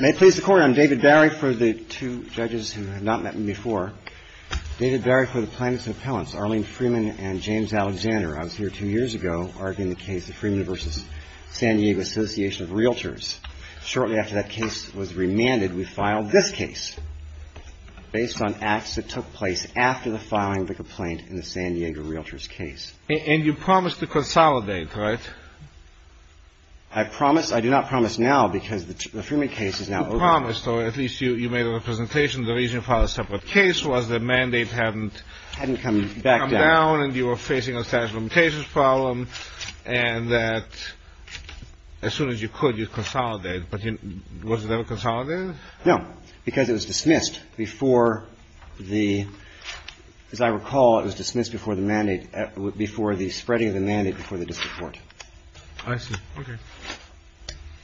May it please the Court, I'm David Barry for the two judges who have not met me before. David Barry for the plaintiffs and appellants, Arlene Freeman and James Alexander. I was here two years ago arguing the case of Freeman v. San Diego Association of Realtors. Shortly after that case was remanded, we filed this case, based on acts that took place after the filing of the complaint in the San Diego Realtors case. And you promised to consolidate, right? I promise. I do not promise now, because the Freeman case is now over. You promised, or at least you made a representation. The reason you filed a separate case was the mandate hadn't come down, and you were facing a statute of limitations problem, and that as soon as you could, you'd consolidate. But was it ever consolidated? No, because it was dismissed before the – as I recall, it was dismissed before the spreading of the mandate before the district court. I see. Okay.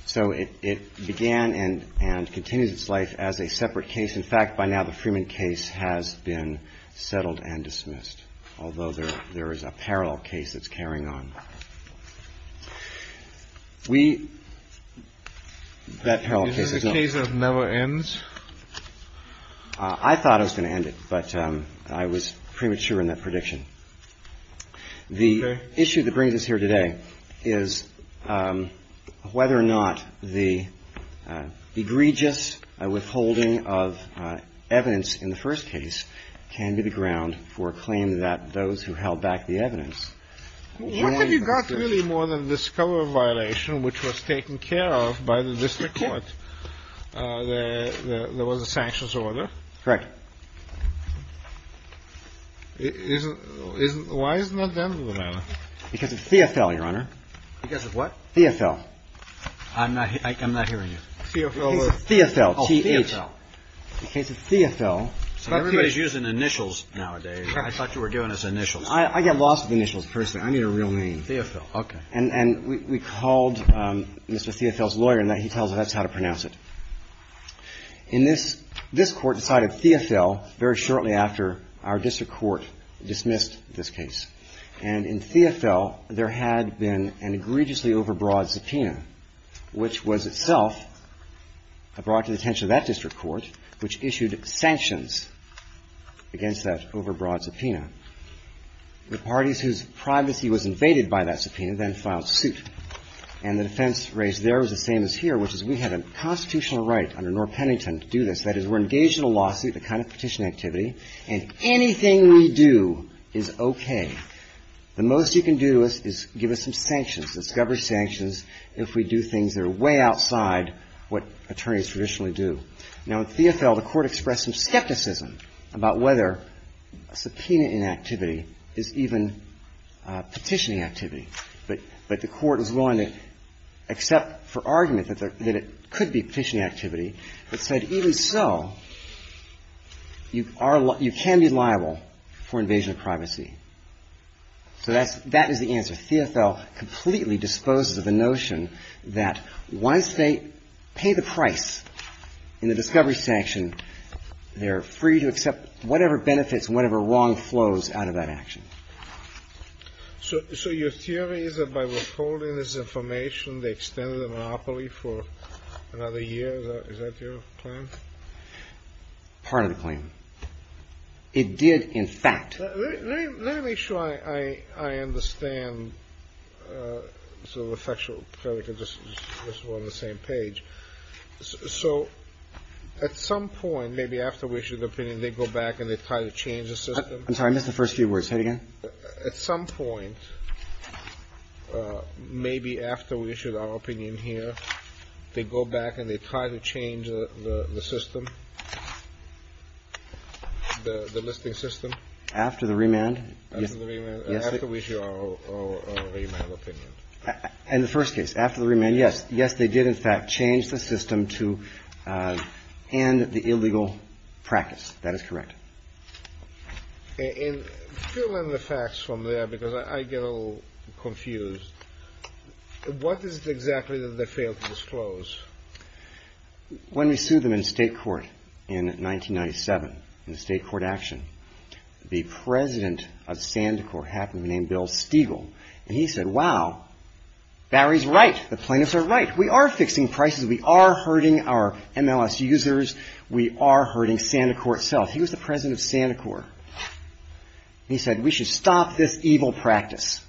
So it began and continues its life as a separate case. In fact, by now, the Freeman case has been settled and dismissed, although there is a parallel case that's carrying on. We – that parallel case is not – Is this a case that never ends? I thought it was going to end it, but I was premature in that prediction. The issue that brings us here today is whether or not the egregious withholding of evidence in the first case can be the ground for a claim that those who held back the evidence What have you got really more than this cover violation, which was taken care of by the district court, that there was a sanctions order? Isn't – isn't – why isn't that the end of the matter? Because of Theofil, Your Honor. Because of what? Theofil. I'm not – I'm not hearing you. Theofil. Theofil, T-H. Oh, Theofil. The case of Theofil. Everybody's using initials nowadays. I thought you were doing us initials. I get lost with initials, personally. I need a real name. Theofil, okay. And we called Mr. Theofil's lawyer, and he tells us how to pronounce it. In this – this Court decided Theofil very shortly after our district court dismissed this case. And in Theofil, there had been an egregiously overbroad subpoena, which was itself brought to the attention of that district court, which issued sanctions against that overbroad subpoena. The parties whose privacy was invaded by that subpoena then filed suit. And the defense raised there was the same as here, which is we have a constitutional right under North Pennington to do this. That is, we're engaged in a lawsuit, the kind of petition activity, and anything we do is okay. The most you can do is give us some sanctions, discovery sanctions, if we do things that are way outside what attorneys traditionally do. Now, in Theofil, the Court expressed some skepticism about whether subpoena inactivity is even petitioning activity. But the Court was willing to accept for argument that it could be petitioning activity, but said even so, you can be liable for invasion of privacy. So that is the answer. And Theofil completely disposes of the notion that once they pay the price in the discovery sanction, they're free to accept whatever benefits and whatever wrong flows out of that action. So your theory is that by withholding this information, they extended the monopoly for another year? Is that your claim? Part of the claim. It did, in fact. Let me make sure I understand, so the factual credit can just go on the same page. So at some point, maybe after we issue the opinion, they go back and they try to change the system? I'm sorry. I missed the first few words. Say it again. At some point, maybe after we issue our opinion here, they go back and they try to change the system, the listing system? After the remand. After the remand. After we issue our remand opinion. In the first case, after the remand, yes. Yes, they did, in fact, change the system to end the illegal practice. That is correct. And fill in the facts from there, because I get a little confused. What is it exactly that they failed to disclose? When we sued them in state court in 1997, in state court action, the president of Santa Corp happened to be named Bill Stiegel. And he said, wow, Barry's right. The plaintiffs are right. We are fixing prices. We are hurting our MLS users. We are hurting Santa Corp itself. He was the president of Santa Corp. He said we should stop this evil practice.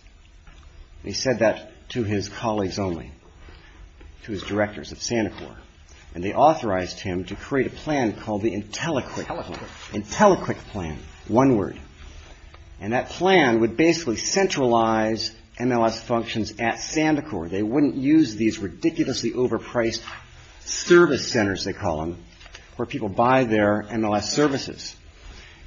He said that to his colleagues only, to his directors of Santa Corp. And they authorized him to create a plan called the IntelliQuick. IntelliQuick. IntelliQuick plan, one word. And that plan would basically centralize MLS functions at Santa Corp. They wouldn't use these ridiculously overpriced service centers, they call them, where people buy their MLS services.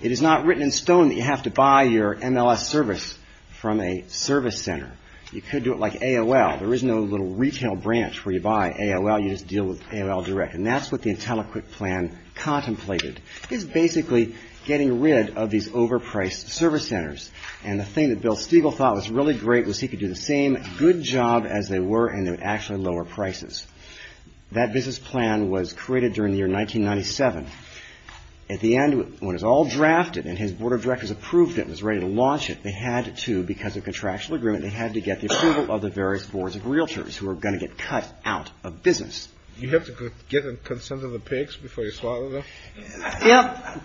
It is not written in stone that you have to buy your MLS service from a service center. You could do it like AOL. There is no little retail branch where you buy AOL. You just deal with AOL direct. And that's what the IntelliQuick plan contemplated, is basically getting rid of these overpriced service centers. And the thing that Bill Stiegel thought was really great was he could do the same good job as they were and they would actually lower prices. That business plan was created during the year 1997. At the end, when it was all drafted and his board of directors approved it and was ready to launch it, they had to, because of contractual agreement, they had to get the approval of the various boards of realtors who were going to get cut out of business. You have to get consent of the pigs before you slaughter them? Yep.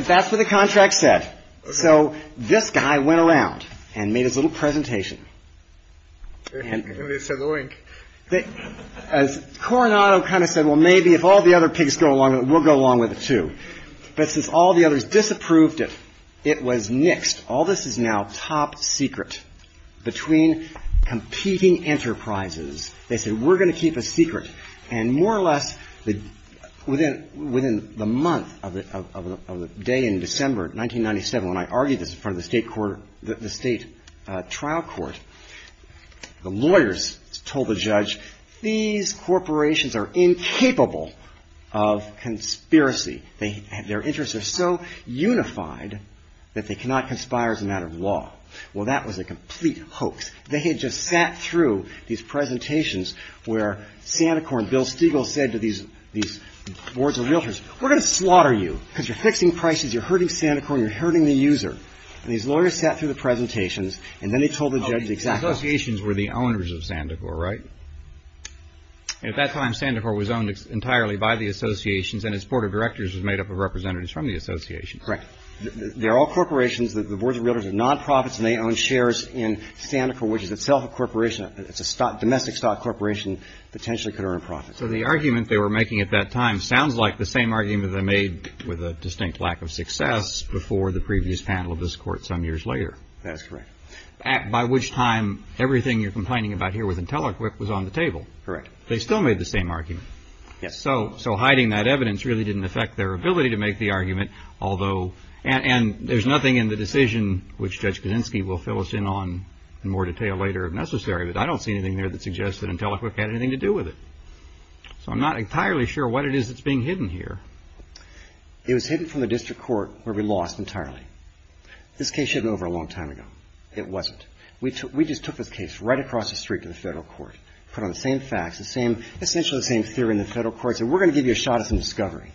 That's what the contract said. So this guy went around and made his little presentation. And they said oink. Coronado kind of said, well, maybe if all the other pigs go along with it, we'll go along with it, too. But since all the others disapproved it, it was nixed. All this is now top secret between competing enterprises. They said, we're going to keep a secret. And more or less within the month of the day in December 1997, when I argued this in front of the state trial court, the lawyers told the judge, these corporations are incapable of conspiracy. Their interests are so unified that they cannot conspire as a matter of law. Well, that was a complete hoax. They had just sat through these presentations where Santa Corn, Bill Stigall, said to these boards of realtors, we're going to slaughter you because you're fixing prices, you're hurting Santa Corn, you're hurting the user. And these lawyers sat through the presentations, and then they told the judge exactly. Associations were the owners of Santa Corn, right? At that time, Santa Corn was owned entirely by the associations, and its board of directors was made up of representatives from the association. Correct. They're all corporations. The boards of realtors are non-profits, and they own shares in Santa Corn, which is itself a corporation. It's a domestic stock corporation, potentially could earn profits. So the argument they were making at that time sounds like the same argument they made with a distinct lack of success before the previous panel of this Court some years later. That's correct. By which time everything you're complaining about here with IntelliQuip was on the table. Correct. They still made the same argument. Yes. So hiding that evidence really didn't affect their ability to make the argument, although – and there's nothing in the decision, which Judge Kaczynski will fill us in on in more detail later if necessary, but I don't see anything there that suggests that IntelliQuip had anything to do with it. So I'm not entirely sure what it is that's being hidden here. It was hidden from the district court where we lost entirely. This case shouldn't have been over a long time ago. It wasn't. We just took this case right across the street to the federal court, put on the same facts, essentially the same theory in the federal courts, and we're going to give you a shot at some discovery.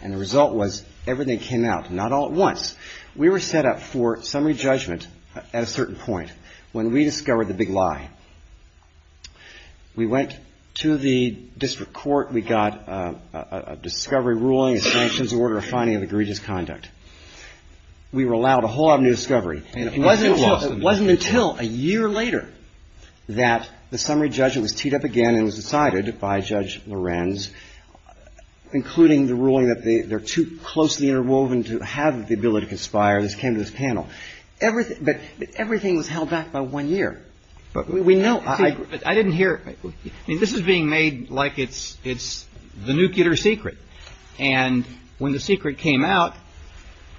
And the result was everything came out, not all at once. We were set up for summary judgment at a certain point when we discovered the big lie. We went to the district court. We got a discovery ruling, a sanctions order, a finding of egregious conduct. We were allowed a whole lot of new discovery. And it wasn't until a year later that the summary judgment was teed up again and was decided by Judge Lorenz, including the ruling that they're too closely interwoven to have the ability to conspire. This came to this panel. But everything was held back by one year. But we know. I didn't hear. I mean, this is being made like it's the nuclear secret. And when the secret came out,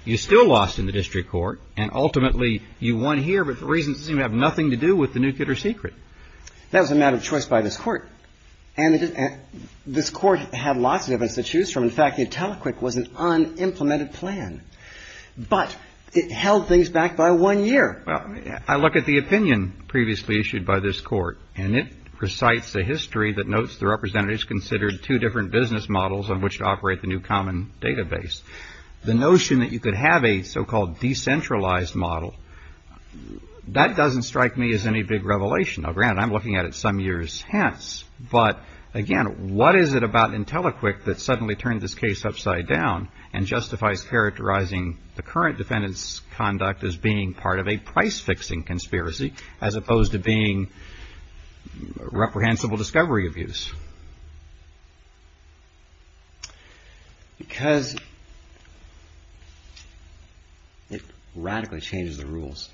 you still lost in the district court. And ultimately, you won here. But the reasons seem to have nothing to do with the nuclear secret. That was a matter of choice by this court. And this court had lots of evidence to choose from. In fact, the Intelliquid was an unimplemented plan. But it held things back by one year. Well, I look at the opinion previously issued by this court. And it recites a history that notes the representatives considered two different business models on which to operate the new common database. The notion that you could have a so-called decentralized model, that doesn't strike me as any big revelation. Now, granted, I'm looking at it some years hence. But again, what is it about Intelliquid that suddenly turned this case upside down and justifies characterizing the current defendant's conduct as being part of a price-fixing conspiracy, as opposed to being reprehensible discovery abuse? Because it radically changes the rules.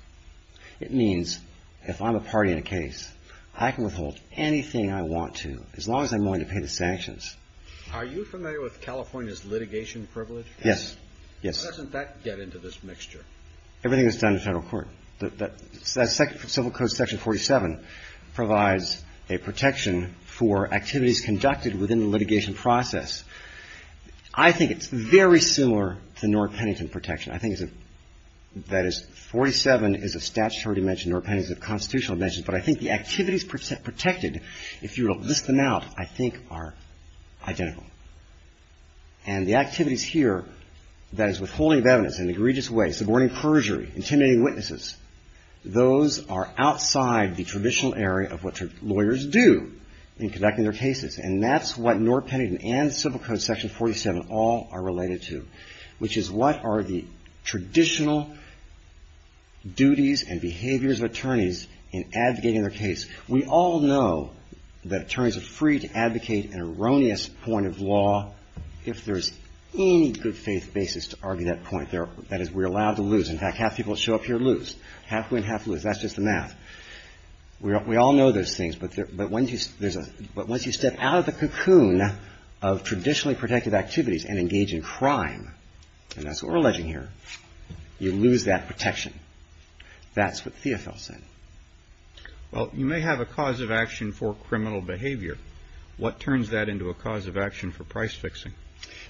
It means if I'm a party in a case, I can withhold anything I want to, as long as I'm willing to pay the sanctions. Are you familiar with California's litigation privilege? Yes. Yes. How does that get into this mixture? Everything that's done in federal court. The Civil Code section 47 provides a protection for activities conducted within the litigation process. I think it's very similar to North Pennington protection. I think that is 47 is a statutory dimension. North Pennington is a constitutional dimension. But I think the activities protected, if you list them out, I think are identical. And the activities here, that is withholding evidence in an egregious way, subverting perjury, intimidating witnesses, those are outside the traditional area of what lawyers do in conducting their cases. And that's what North Pennington and Civil Code section 47 all are related to, which is what are the traditional duties and behaviors of attorneys in advocating their case. We all know that attorneys are free to advocate an erroneous point of law if there's any good faith basis to argue that point. That is, we're allowed to lose. In fact, half the people that show up here lose. Half win, half lose. That's just the math. We all know those things. But once you step out of the cocoon of traditionally protected activities and engage in crime, and that's what we're alleging here, you lose that protection. That's what Theofil said. Well, you may have a cause of action for criminal behavior. What turns that into a cause of action for price fixing?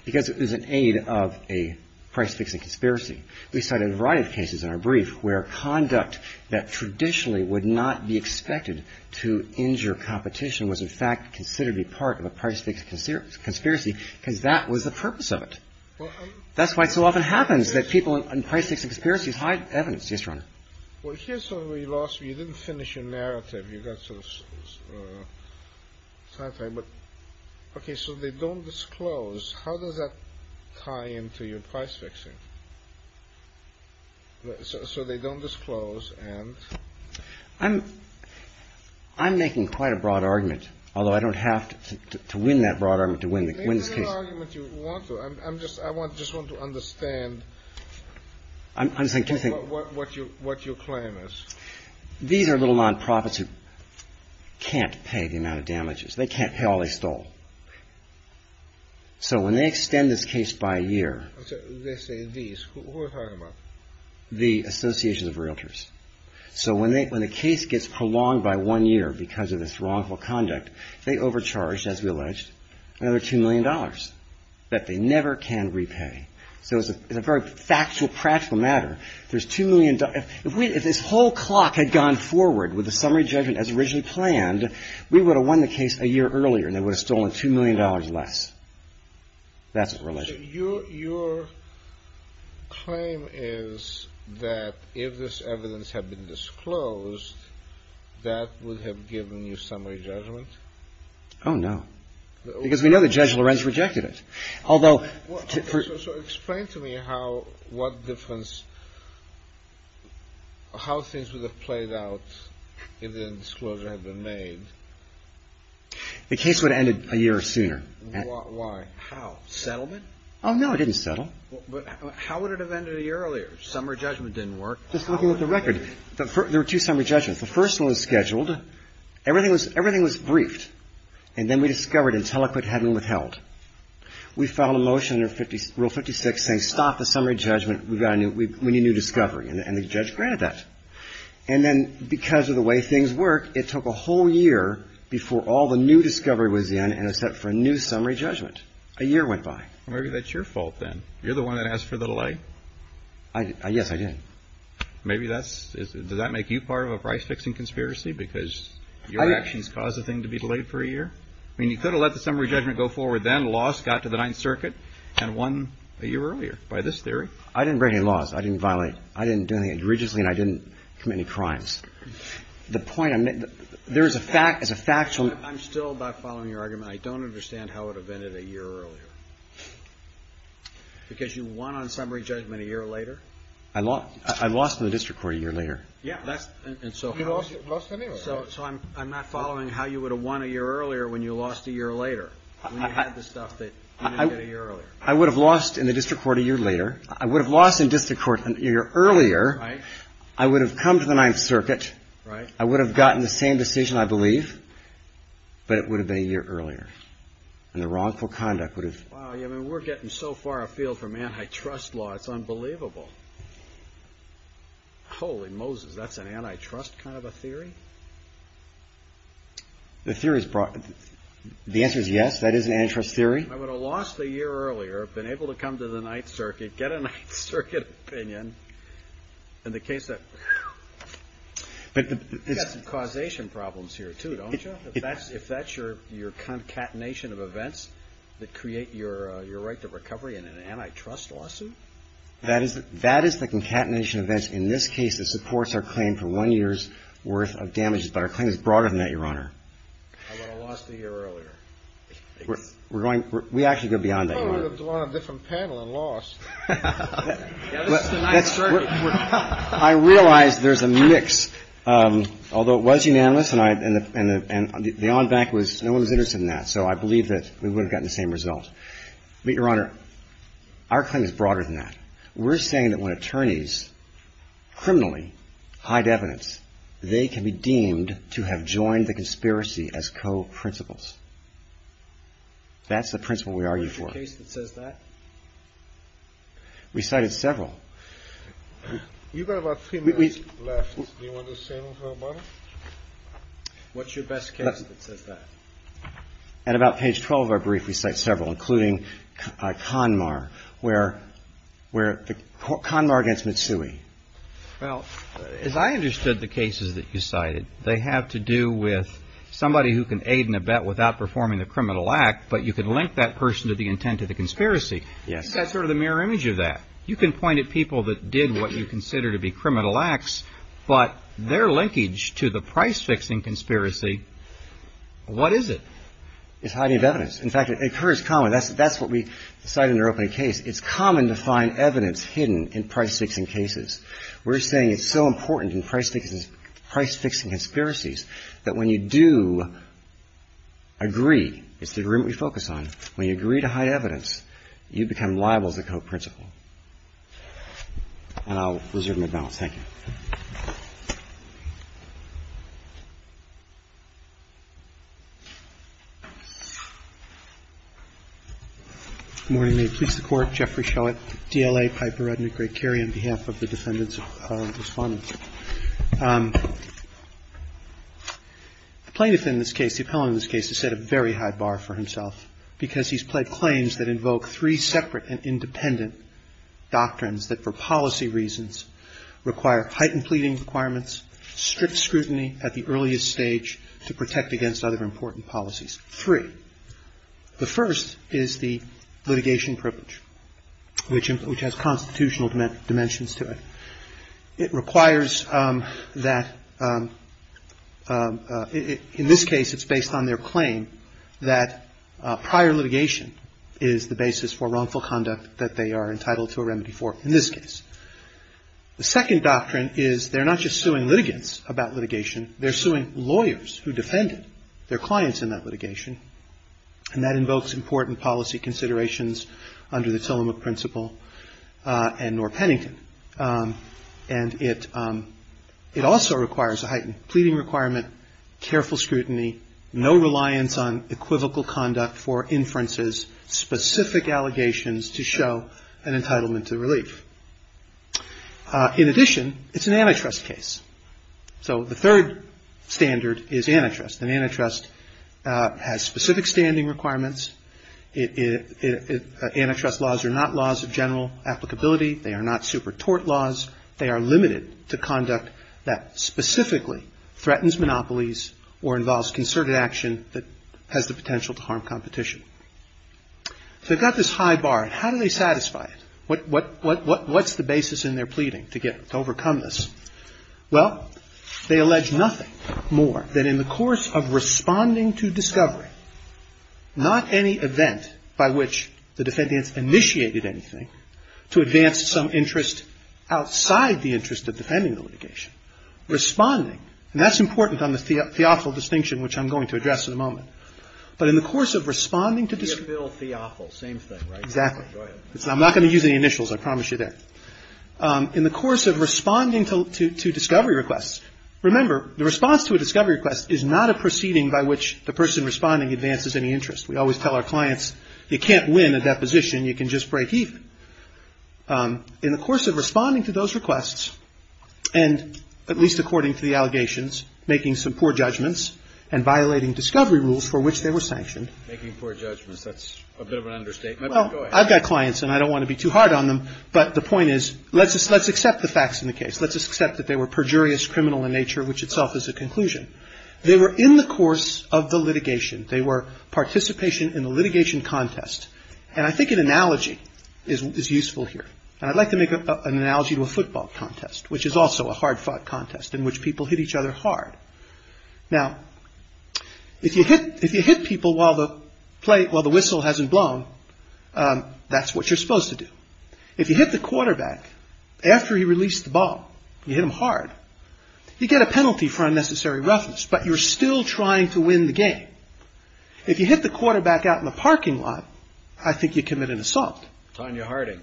Because it is an aid of a price-fixing conspiracy. We cite a variety of cases in our brief where conduct that traditionally would not be expected to injure competition was in fact considered to be part of a price-fixing conspiracy because that was the purpose of it. That's why it so often happens that people in price-fixing conspiracies hide evidence. Yes, Your Honor. Well, here's where we lost you. You didn't finish your narrative. You got some time. But, okay, so they don't disclose. How does that tie into your price-fixing? So they don't disclose. I'm making quite a broad argument, although I don't have to win that broad argument to win the case. I just want to understand what your claim is. These are little nonprofits who can't pay the amount of damages. They can't pay all they stole. So when they extend this case by a year. They say these. Who are you talking about? The Association of Realtors. So when the case gets prolonged by one year because of this wrongful conduct, they overcharge, as we alleged, another $2 million that they never can repay. So it's a very factual, practical matter. There's $2 million. If this whole clock had gone forward with the summary judgment as originally planned, we would have won the case a year earlier and they would have stolen $2 million less. That's the relation. Your claim is that if this evidence had been disclosed, that would have given you summary judgment? Oh, no. Because we know that Judge Lorenz rejected it. So explain to me how things would have played out if the disclosure had been made. The case would have ended a year sooner. Why? How? Settlement? Oh, no, it didn't settle. But how would it have ended a year earlier? Summary judgment didn't work. Just looking at the record. There were two summary judgments. The first one was scheduled. Everything was briefed. And then we discovered Intelliquid had been withheld. We filed a motion under Rule 56 saying stop the summary judgment. We need new discovery. And the judge granted that. And then because of the way things work, it took a whole year before all the new discovery was in and it set for a new summary judgment. A year went by. Maybe that's your fault, then. You're the one that asked for the delay. Yes, I did. Maybe that's – does that make you part of a price-fixing conspiracy because your actions caused the thing to be delayed for a year? I mean, you could have let the summary judgment go forward then, lost, got to the Ninth Circuit, and won a year earlier by this theory. I didn't break any laws. I didn't violate – I didn't do anything indiregently. And I didn't commit any crimes. The point – there is a factual – I'm still not following your argument. I don't understand how it would have ended a year earlier because you won on summary judgment a year later. I lost in the district court a year later. Yeah, that's – and so how – You lost a year earlier. So I'm not following how you would have won a year earlier when you lost a year later when you had the stuff that you did a year earlier. I would have lost in the district court a year later. I would have lost in district court a year earlier. Right. I would have come to the Ninth Circuit. Right. I would have gotten the same decision, I believe, but it would have been a year earlier. And the wrongful conduct would have – Wow, I mean, we're getting so far afield from antitrust law, it's unbelievable. Holy Moses, that's an antitrust kind of a theory? The theory is – the answer is yes, that is an antitrust theory. I would have lost a year earlier, been able to come to the Ninth Circuit, get a Ninth Circuit opinion in the case that – You've got some causation problems here, too, don't you, if that's your concatenation of events that create your right to recovery in an antitrust lawsuit? That is the concatenation of events in this case that supports our claim for one year's worth of damages, but our claim is broader than that, Your Honor. I would have lost a year earlier. We're going – we actually go beyond that, Your Honor. I would have gone on a different panel and lost. Yeah, this is the Ninth Circuit. I realize there's a mix, although it was unanimous and I – and the on back was no one was interested in that, so I believe that we would have gotten the same result. But, Your Honor, our claim is broader than that. We're saying that when attorneys criminally hide evidence, they can be deemed to have joined the conspiracy as co-principles. That's the principle we argue for. What's the case that says that? We cited several. You've got about three minutes left. Do you want to say anything about it? What's your best case that says that? At about page 12 of our brief, we cite several, including CONMAR, where – CONMAR against Mitsui. Well, as I understood the cases that you cited, they have to do with somebody who can aid in a bet without performing the criminal act, but you can link that person to the intent of the conspiracy. Yes. That's sort of the mirror image of that. You can point at people that did what you consider to be criminal acts, but their linkage to the price-fixing conspiracy, what is it? It's hiding of evidence. In fact, it occurs commonly. That's what we cite in our opening case. It's common to find evidence hidden in price-fixing cases. We're saying it's so important in price-fixing conspiracies that when you do agree, it's the agreement we focus on, when you agree to hide evidence, you become liable as a co-principal. And I'll reserve my balance. Thank you. Good morning. May it please the Court. Jeffrey Showitt, DLA, Piper, Rudnick, Gray-Curry, on behalf of the defendants' respondents. The plaintiff in this case, the appellant in this case, has set a very high bar for himself because he's pled claims that invoke three separate and independent doctrines that, for policy reasons, require heightened pleading requirements, strict scrutiny at the earliest stage to protect against other important policies. Three. The first is the litigation privilege, which has constitutional dimensions to it. It requires that in this case it's based on their claim that prior litigation is the basis for wrongful conduct that they are entitled to a remedy for in this case. The second doctrine is they're not just suing litigants about litigation. They're suing lawyers who defended their clients in that litigation, and that invokes important policy considerations under the Tillamook principle and Norr Pennington. And it also requires a heightened pleading requirement, careful scrutiny, no reliance on equivocal conduct for inferences, specific allegations to show an entitlement to relief. In addition, it's an antitrust case. So the third standard is antitrust, and antitrust has specific standing requirements. Antitrust laws are not laws of general applicability. They are not super tort laws. They are limited to conduct that specifically threatens monopolies or involves concerted action that has the potential to harm competition. So they've got this high bar, and how do they satisfy it? What's the basis in their pleading to overcome this? Well, they allege nothing more than in the course of responding to discovery, not any event by which the defendants initiated anything to advance some interest outside the interest of defending the litigation. Responding, and that's important on the theophile distinction, which I'm going to address in a moment. But in the course of responding to the ---- Theophile, same thing, right? Go ahead. I'm not going to use any initials, I promise you that. In the course of responding to discovery requests, remember, the response to a discovery request is not a proceeding by which the person responding advances any interest. We always tell our clients, you can't win a deposition, you can just break even. In the course of responding to those requests, and at least according to the allegations, making some poor judgments and violating discovery rules for which they were sanctioned. Making poor judgments, that's a bit of an understatement. Go ahead. I've got clients, and I don't want to be too hard on them, but the point is, let's accept the facts in the case. Let's accept that they were perjurious, criminal in nature, which itself is a conclusion. They were in the course of the litigation. They were participation in the litigation contest. And I think an analogy is useful here. And I'd like to make an analogy to a football contest, which is also a hard-fought contest in which people hit each other hard. Now, if you hit people while the whistle hasn't blown, that's what you're supposed to do. If you hit the quarterback after he released the ball, you hit him hard, you get a penalty for unnecessary roughness, but you're still trying to win the game. If you hit the quarterback out in the parking lot, I think you commit an assault. Tonya Harding.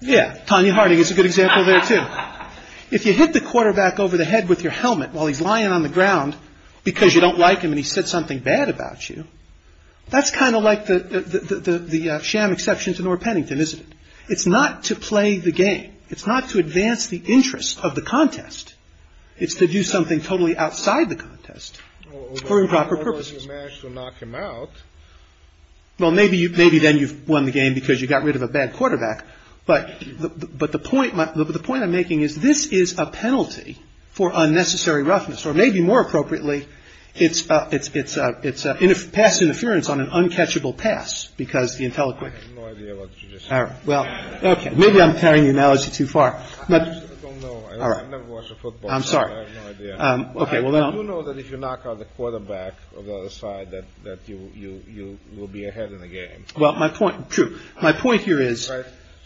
Yeah, Tonya Harding is a good example there, too. Now, if you hit the quarterback over the head with your helmet while he's lying on the ground because you don't like him and he said something bad about you, that's kind of like the sham exception to Norah Pennington, isn't it? It's not to play the game. It's not to advance the interests of the contest. It's to do something totally outside the contest for improper purposes. Well, maybe then you've won the game because you got rid of a bad quarterback. But but the point the point I'm making is this is a penalty for unnecessary roughness or maybe more appropriately, it's it's it's it's a pass interference on an uncatchable pass because the intelligent. All right. Well, maybe I'm carrying the analogy too far. All right. I'm sorry. I'm OK. Well, I don't know that if you knock out the quarterback or the side that that you you you will be ahead in the game. Well, my point to my point here is,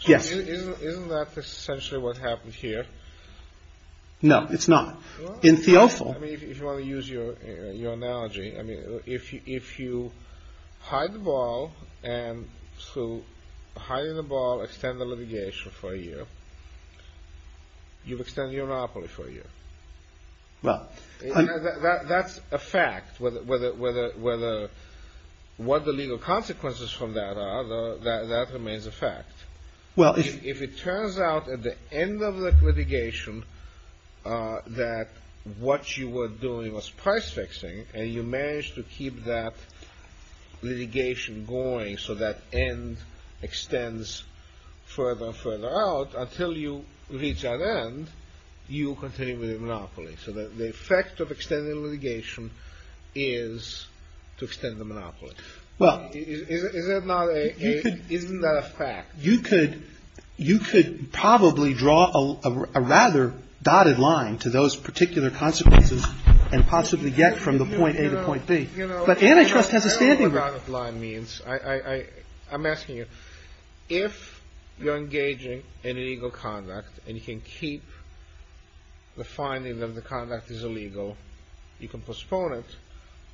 yes. Isn't that essentially what happened here? No, it's not in the awful. I mean, if you want to use your analogy, I mean, if you if you hide the ball and to hide the ball, extend the litigation for a year. You've extended your monopoly for a year. Well, that's a fact whether whether whether whether what the legal consequences from that are that remains a fact. Well, if it turns out at the end of the litigation that what you were doing was price fixing and you managed to keep that litigation going. extends further and further out until you reach an end, you continue with a monopoly. So the effect of extended litigation is to extend the monopoly. Well, is it not? Isn't that a fact? You could you could probably draw a rather dotted line to those particular consequences and possibly get from the point A to point B. But antitrust has a standing line means I I'm asking you if you're engaging in illegal conduct and you can keep the finding that the conduct is illegal, you can postpone it.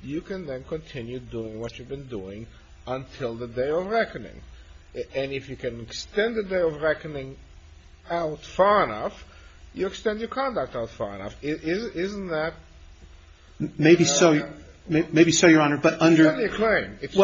You can then continue doing what you've been doing until the day of reckoning. And if you can extend the day of reckoning out far enough, you extend your conduct out far enough. Isn't that maybe so? Maybe so, Your Honor. But under the claim, it's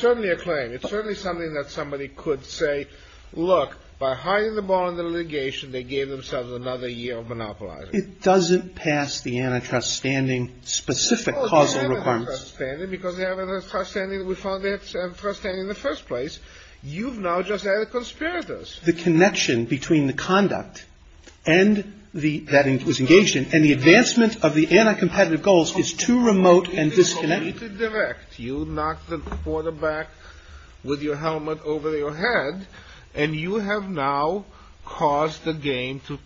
certainly a claim. It's certainly something that somebody could say, look, by hiding the ball in the litigation, they gave themselves another year of monopolizing. It doesn't pass the antitrust standing specific causal requirements. Because they have a standing. We found it in the first place. You've now just added conspirators. The connection between the conduct and the that was engaged in and the advancement of the anti-competitive goals is too remote and disconnected. Direct. You knocked the quarterback with your helmet over your head and you have now caused the game to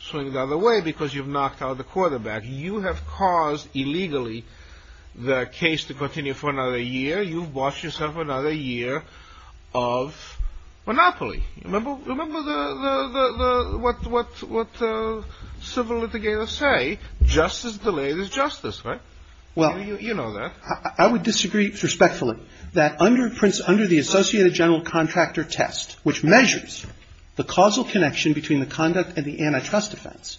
swing the other way because you've knocked out the quarterback. You have caused illegally the case to continue for another year. You've bought yourself another year of monopoly. Remember what civil litigators say, justice delayed is justice, right? Well, you know that. I would disagree respectfully that under Prince under the Associated General Contractor test, which measures the causal connection between the conduct and the antitrust defense,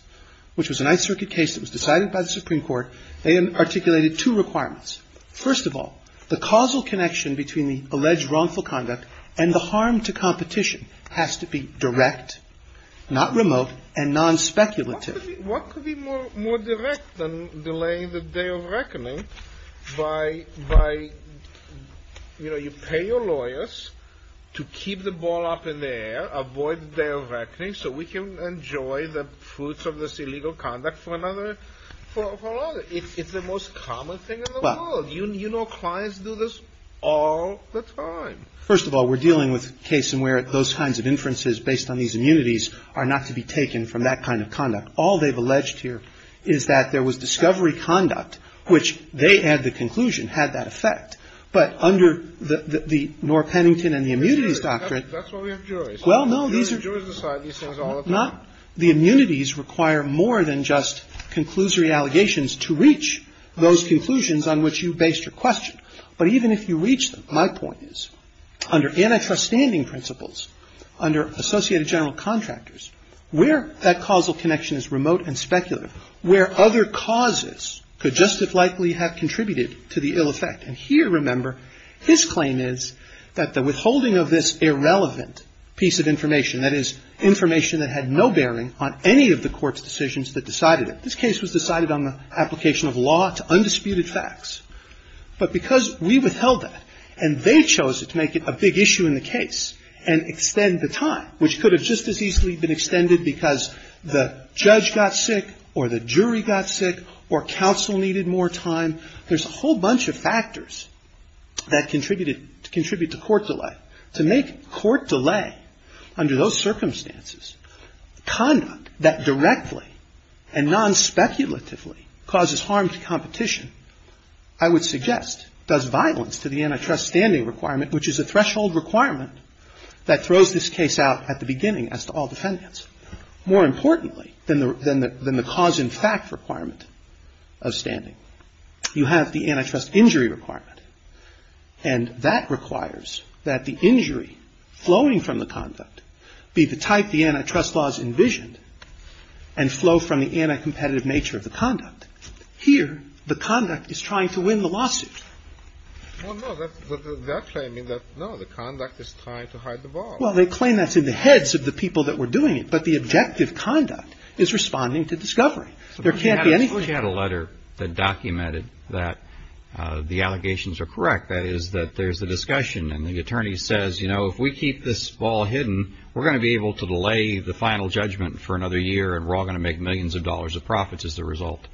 which was a nice circuit case that was decided by the Supreme Court, they articulated two requirements. First of all, the causal connection between the alleged wrongful conduct and the harm to competition has to be direct, not remote, and non-speculative. What could be more direct than delaying the day of reckoning by, you know, you pay your lawyers to keep the ball up in the air, avoid the day of reckoning so we can enjoy the fruits of this illegal conduct for another. It's the most common thing in the world. You know clients do this all the time. First of all, we're dealing with a case in where those kinds of inferences based on these immunities are not to be taken from that kind of conduct. All they've alleged here is that there was discovery conduct, which they had the conclusion had that effect. But under the Knorr-Pennington and the immunities doctrine, well, no, these are not. The immunities require more than just conclusory allegations to reach those conclusions on which you based your question. But even if you reach them, my point is, under antitrust standing principles, under Associated General Contractors, where that causal connection is remote and speculative, where other causes could just as likely have contributed to the ill effect. And here, remember, his claim is that the withholding of this irrelevant piece of information, that is, information that had no bearing on any of the court's decisions that decided it. This case was decided on the application of law to undisputed facts. But because we withheld that and they chose it to make it a big issue in the case and extend the time, which could have just as easily been extended because the judge got sick or the jury got sick or counsel needed more time, there's a whole bunch of factors that contributed to court delay. To make court delay under those circumstances conduct that directly and non-speculatively causes harm to competition, I would suggest does violence to the antitrust standing requirement, which is a threshold requirement that throws this case out at the beginning as to all defendants, more importantly than the cause and fact requirement of standing. You have the antitrust injury requirement, and that requires that the injury flowing from the conduct be the type the antitrust laws envisioned and flow from the anti-competitive nature of the conduct. Here, the conduct is trying to win the lawsuit. Well, no, they're claiming that no, the conduct is trying to hide the ball. Well, they claim that's in the heads of the people that were doing it. But the objective conduct is responding to discovery. There can't be anything. She had a letter that documented that the allegations are correct, that is, that there's a discussion and the attorney says, you know, if we keep this ball hidden, we're going to be able to delay the final judgment for another year. And we're all going to make millions of dollars of profits as a result.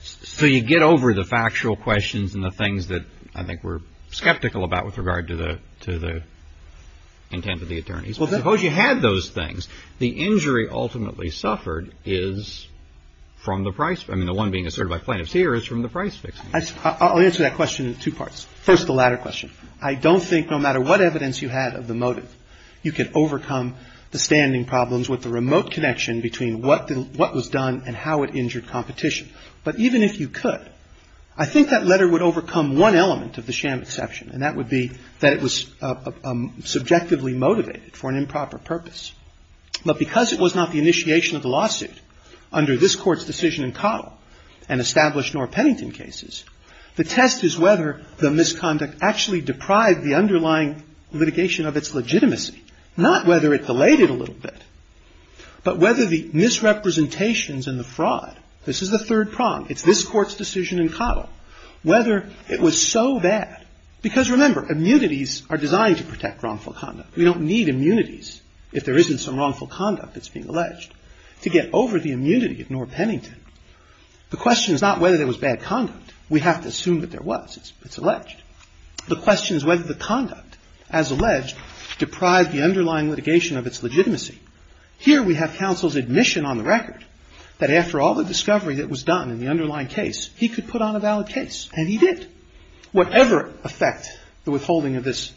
So you get over the factual questions and the things that I think we're skeptical about with regard to the intent of the attorneys. Well, suppose you had those things. The injury ultimately suffered is from the price. I mean, the one being asserted by plaintiffs here is from the price fix. I'll answer that question in two parts. First, the latter question. I don't think no matter what evidence you had of the motive, you could overcome the standing problems with the remote connection between what was done and how it injured competition. But even if you could, I think that letter would overcome one element of the sham exception, and that would be that it was subjectively motivated for an improper purpose. But because it was not the initiation of the lawsuit under this Court's decision in Cottle and established Norr Pennington cases, the test is whether the misconduct actually deprived the underlying litigation of its legitimacy, not whether it delayed it a little bit, but whether the misrepresentations and the fraud, this is the third prong, it's this Court's decision in Cottle, whether it was so bad. Because remember, immunities are designed to protect wrongful conduct. We don't need immunities if there isn't some wrongful conduct that's being alleged to get over the immunity of Norr Pennington. The question is not whether there was bad conduct. We have to assume that there was. It's alleged. The question is whether the conduct, as alleged, deprived the underlying litigation of its legitimacy. Here we have counsel's admission on the record that after all the discovery that was done in the underlying case, he could put on a valid case, and he did. Whatever effect the withholding of this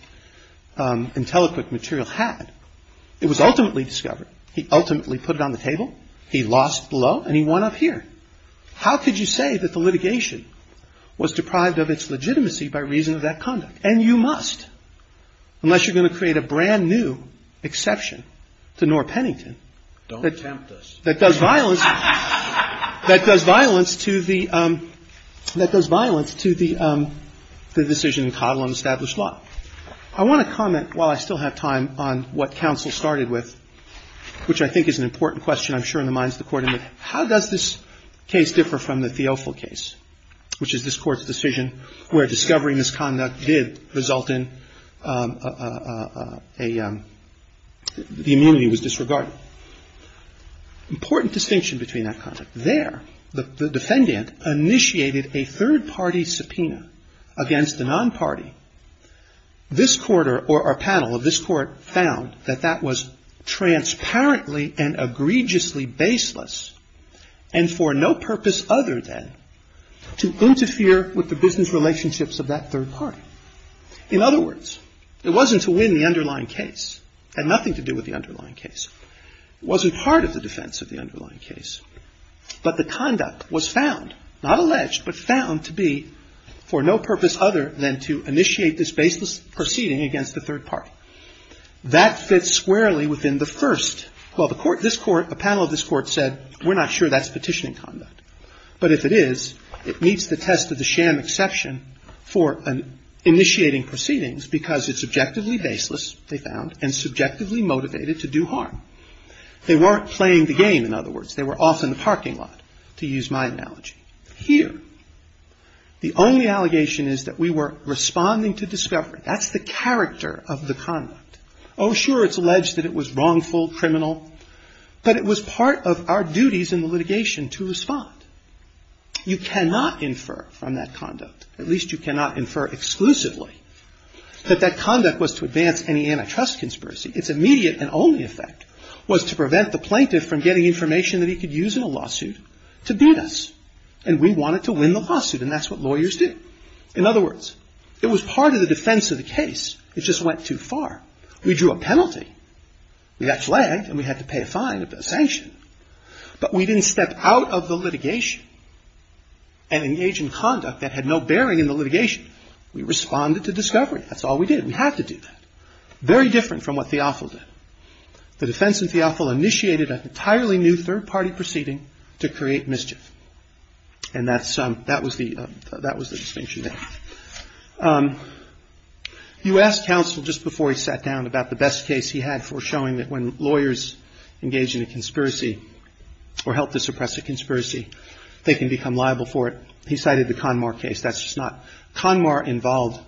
intellectual material had, it was ultimately discovered. He ultimately put it on the table. He lost the law, and he won up here. How could you say that the litigation was deprived of its legitimacy by reason of that conduct? And you must, unless you're going to create a brand-new exception to Norr Pennington. That does violence. That does violence to the decision in Cottle on established law. I want to comment, while I still have time, on what counsel started with, which I think is an important question, and I'm sure in the minds of the Court, how does this case differ from the Theofil case, which is this Court's decision where discovery misconduct did result in a — the immunity was disregarded? Important distinction between that conduct. There, the defendant initiated a third-party subpoena against a non-party. This Court, or our panel of this Court, found that that was transparently and egregiously baseless, and for no purpose other than to interfere with the business relationships of that third party. In other words, it wasn't to win the underlying case. It had nothing to do with the underlying case. It wasn't part of the defense of the underlying case. But the conduct was found, not alleged, but found to be for no purpose other than to initiate this baseless proceeding against the third party. That fits squarely within the first — well, the Court — this Court, a panel of this Court said, we're not sure that's petitioning conduct. But if it is, it meets the test of the sham exception for initiating proceedings because it's objectively baseless, they found, and subjectively motivated to do harm. They weren't playing the game, in other words. They were off in the parking lot, to use my analogy. Here, the only allegation is that we were responding to discovery. That's the character of the conduct. Oh, sure, it's alleged that it was wrongful, criminal, but it was part of our duties in the litigation to respond. You cannot infer from that conduct, at least you cannot infer exclusively, that that conduct was to advance any antitrust conspiracy. Its immediate and only effect was to prevent the plaintiff from getting information that he could use in a lawsuit to beat us. And we wanted to win the lawsuit, and that's what lawyers do. In other words, it was part of the defense of the case. It just went too far. We drew a penalty. We got flagged, and we had to pay a fine, a sanction. But we didn't step out of the litigation and engage in conduct that had no bearing in the litigation. We responded to discovery. That's all we did. We had to do that. Very different from what Theofil did. The defense in Theofil initiated an entirely new third-party proceeding to create mischief. And that was the distinction there. You asked counsel just before he sat down about the best case he had for showing that when lawyers engage in a conspiracy or help to suppress a conspiracy, they can become liable for it. He cited the Conmar case. That's just not. Conmar involved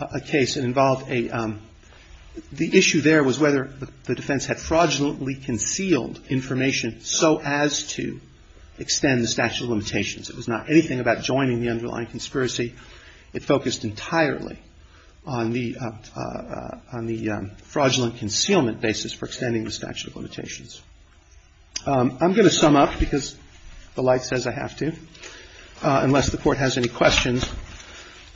a case. It involved a – the issue there was whether the defense had fraudulently concealed information so as to extend the statute of limitations. It was not anything about joining the underlying conspiracy. It focused entirely on the fraudulent concealment basis for extending the statute of limitations. I'm going to sum up because the light says I have to, unless the Court has any questions.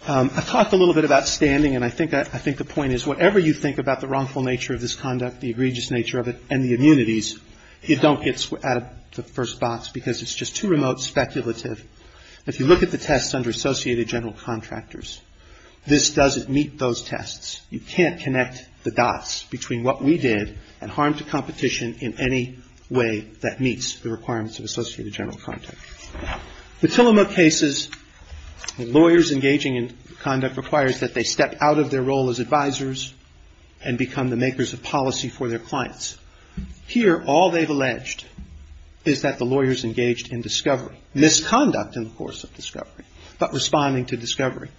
I talked a little bit about standing, and I think the point is whatever you think about the wrongful nature of this conduct, the egregious nature of it, and the immunities, it don't get out of the first box because it's just too remote speculative. If you look at the tests under associated general contractors, this doesn't meet those tests. You can't connect the dots between what we did and harm to competition in any way that meets the requirements of associated general contractor. The Tillamo cases, lawyers engaging in conduct requires that they step out of their role as advisers and become the makers of policy for their clients. Here, all they've alleged is that the lawyers engaged in discovery, misconduct in the course of discovery, but responding to discovery.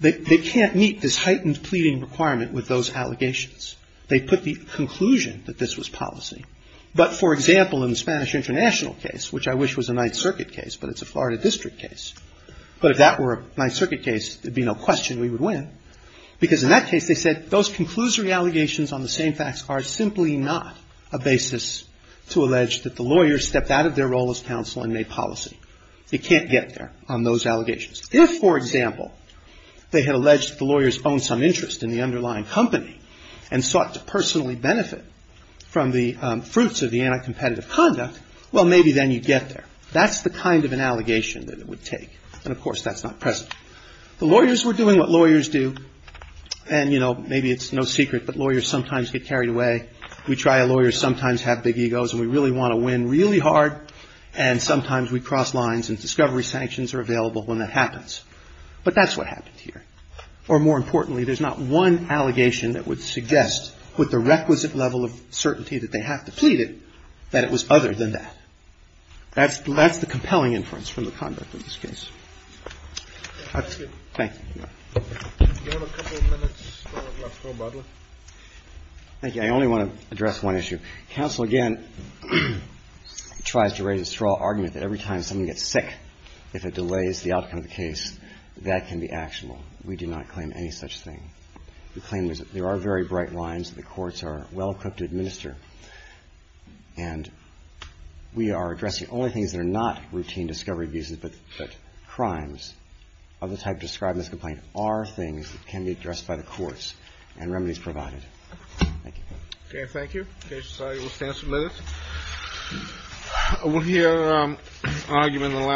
They can't meet this heightened pleading requirement with those allegations. They put the conclusion that this was policy. But, for example, in the Spanish International case, which I wish was a Ninth Circuit case, but it's a Florida district case, but if that were a Ninth Circuit case, there'd be no question we would win. Because in that case, they said those conclusory allegations on the same-fax card are simply not a basis to allege that the lawyers stepped out of their role as counsel and made policy. It can't get there on those allegations. If, for example, they had alleged the lawyers owned some interest in the underlying company and sought to personally benefit from the fruits of the anti-competitive conduct, well, maybe then you'd get there. That's the kind of an allegation that it would take. And, of course, that's not present. The lawyers were doing what lawyers do. And, you know, maybe it's no secret, but lawyers sometimes get carried away. We try a lawyer, sometimes have big egos, and we really want to win really hard. And sometimes we cross lines, and discovery sanctions are available when that happens. But that's what happened here. Or, more importantly, there's not one allegation that would suggest, with the requisite level of certainty that they have to plead it, that it was other than that. That's the compelling inference from the conduct of this case. Thank you. Do you have a couple of minutes left for Butler? Thank you. I only want to address one issue. Counsel, again, tries to raise a straw argument that every time someone gets sick, if it delays the outcome of the case, that can be actionable. We do not claim any such thing. The claim is that there are very bright lines that the courts are well-equipped to administer. And we are addressing only things that are not routine discovery abuses, but crimes of the type described in this complaint are things that can be addressed by the courts, and remedies provided. Thank you. Thank you. Okay. We'll stand some minutes. We'll hear an argument in the lounge.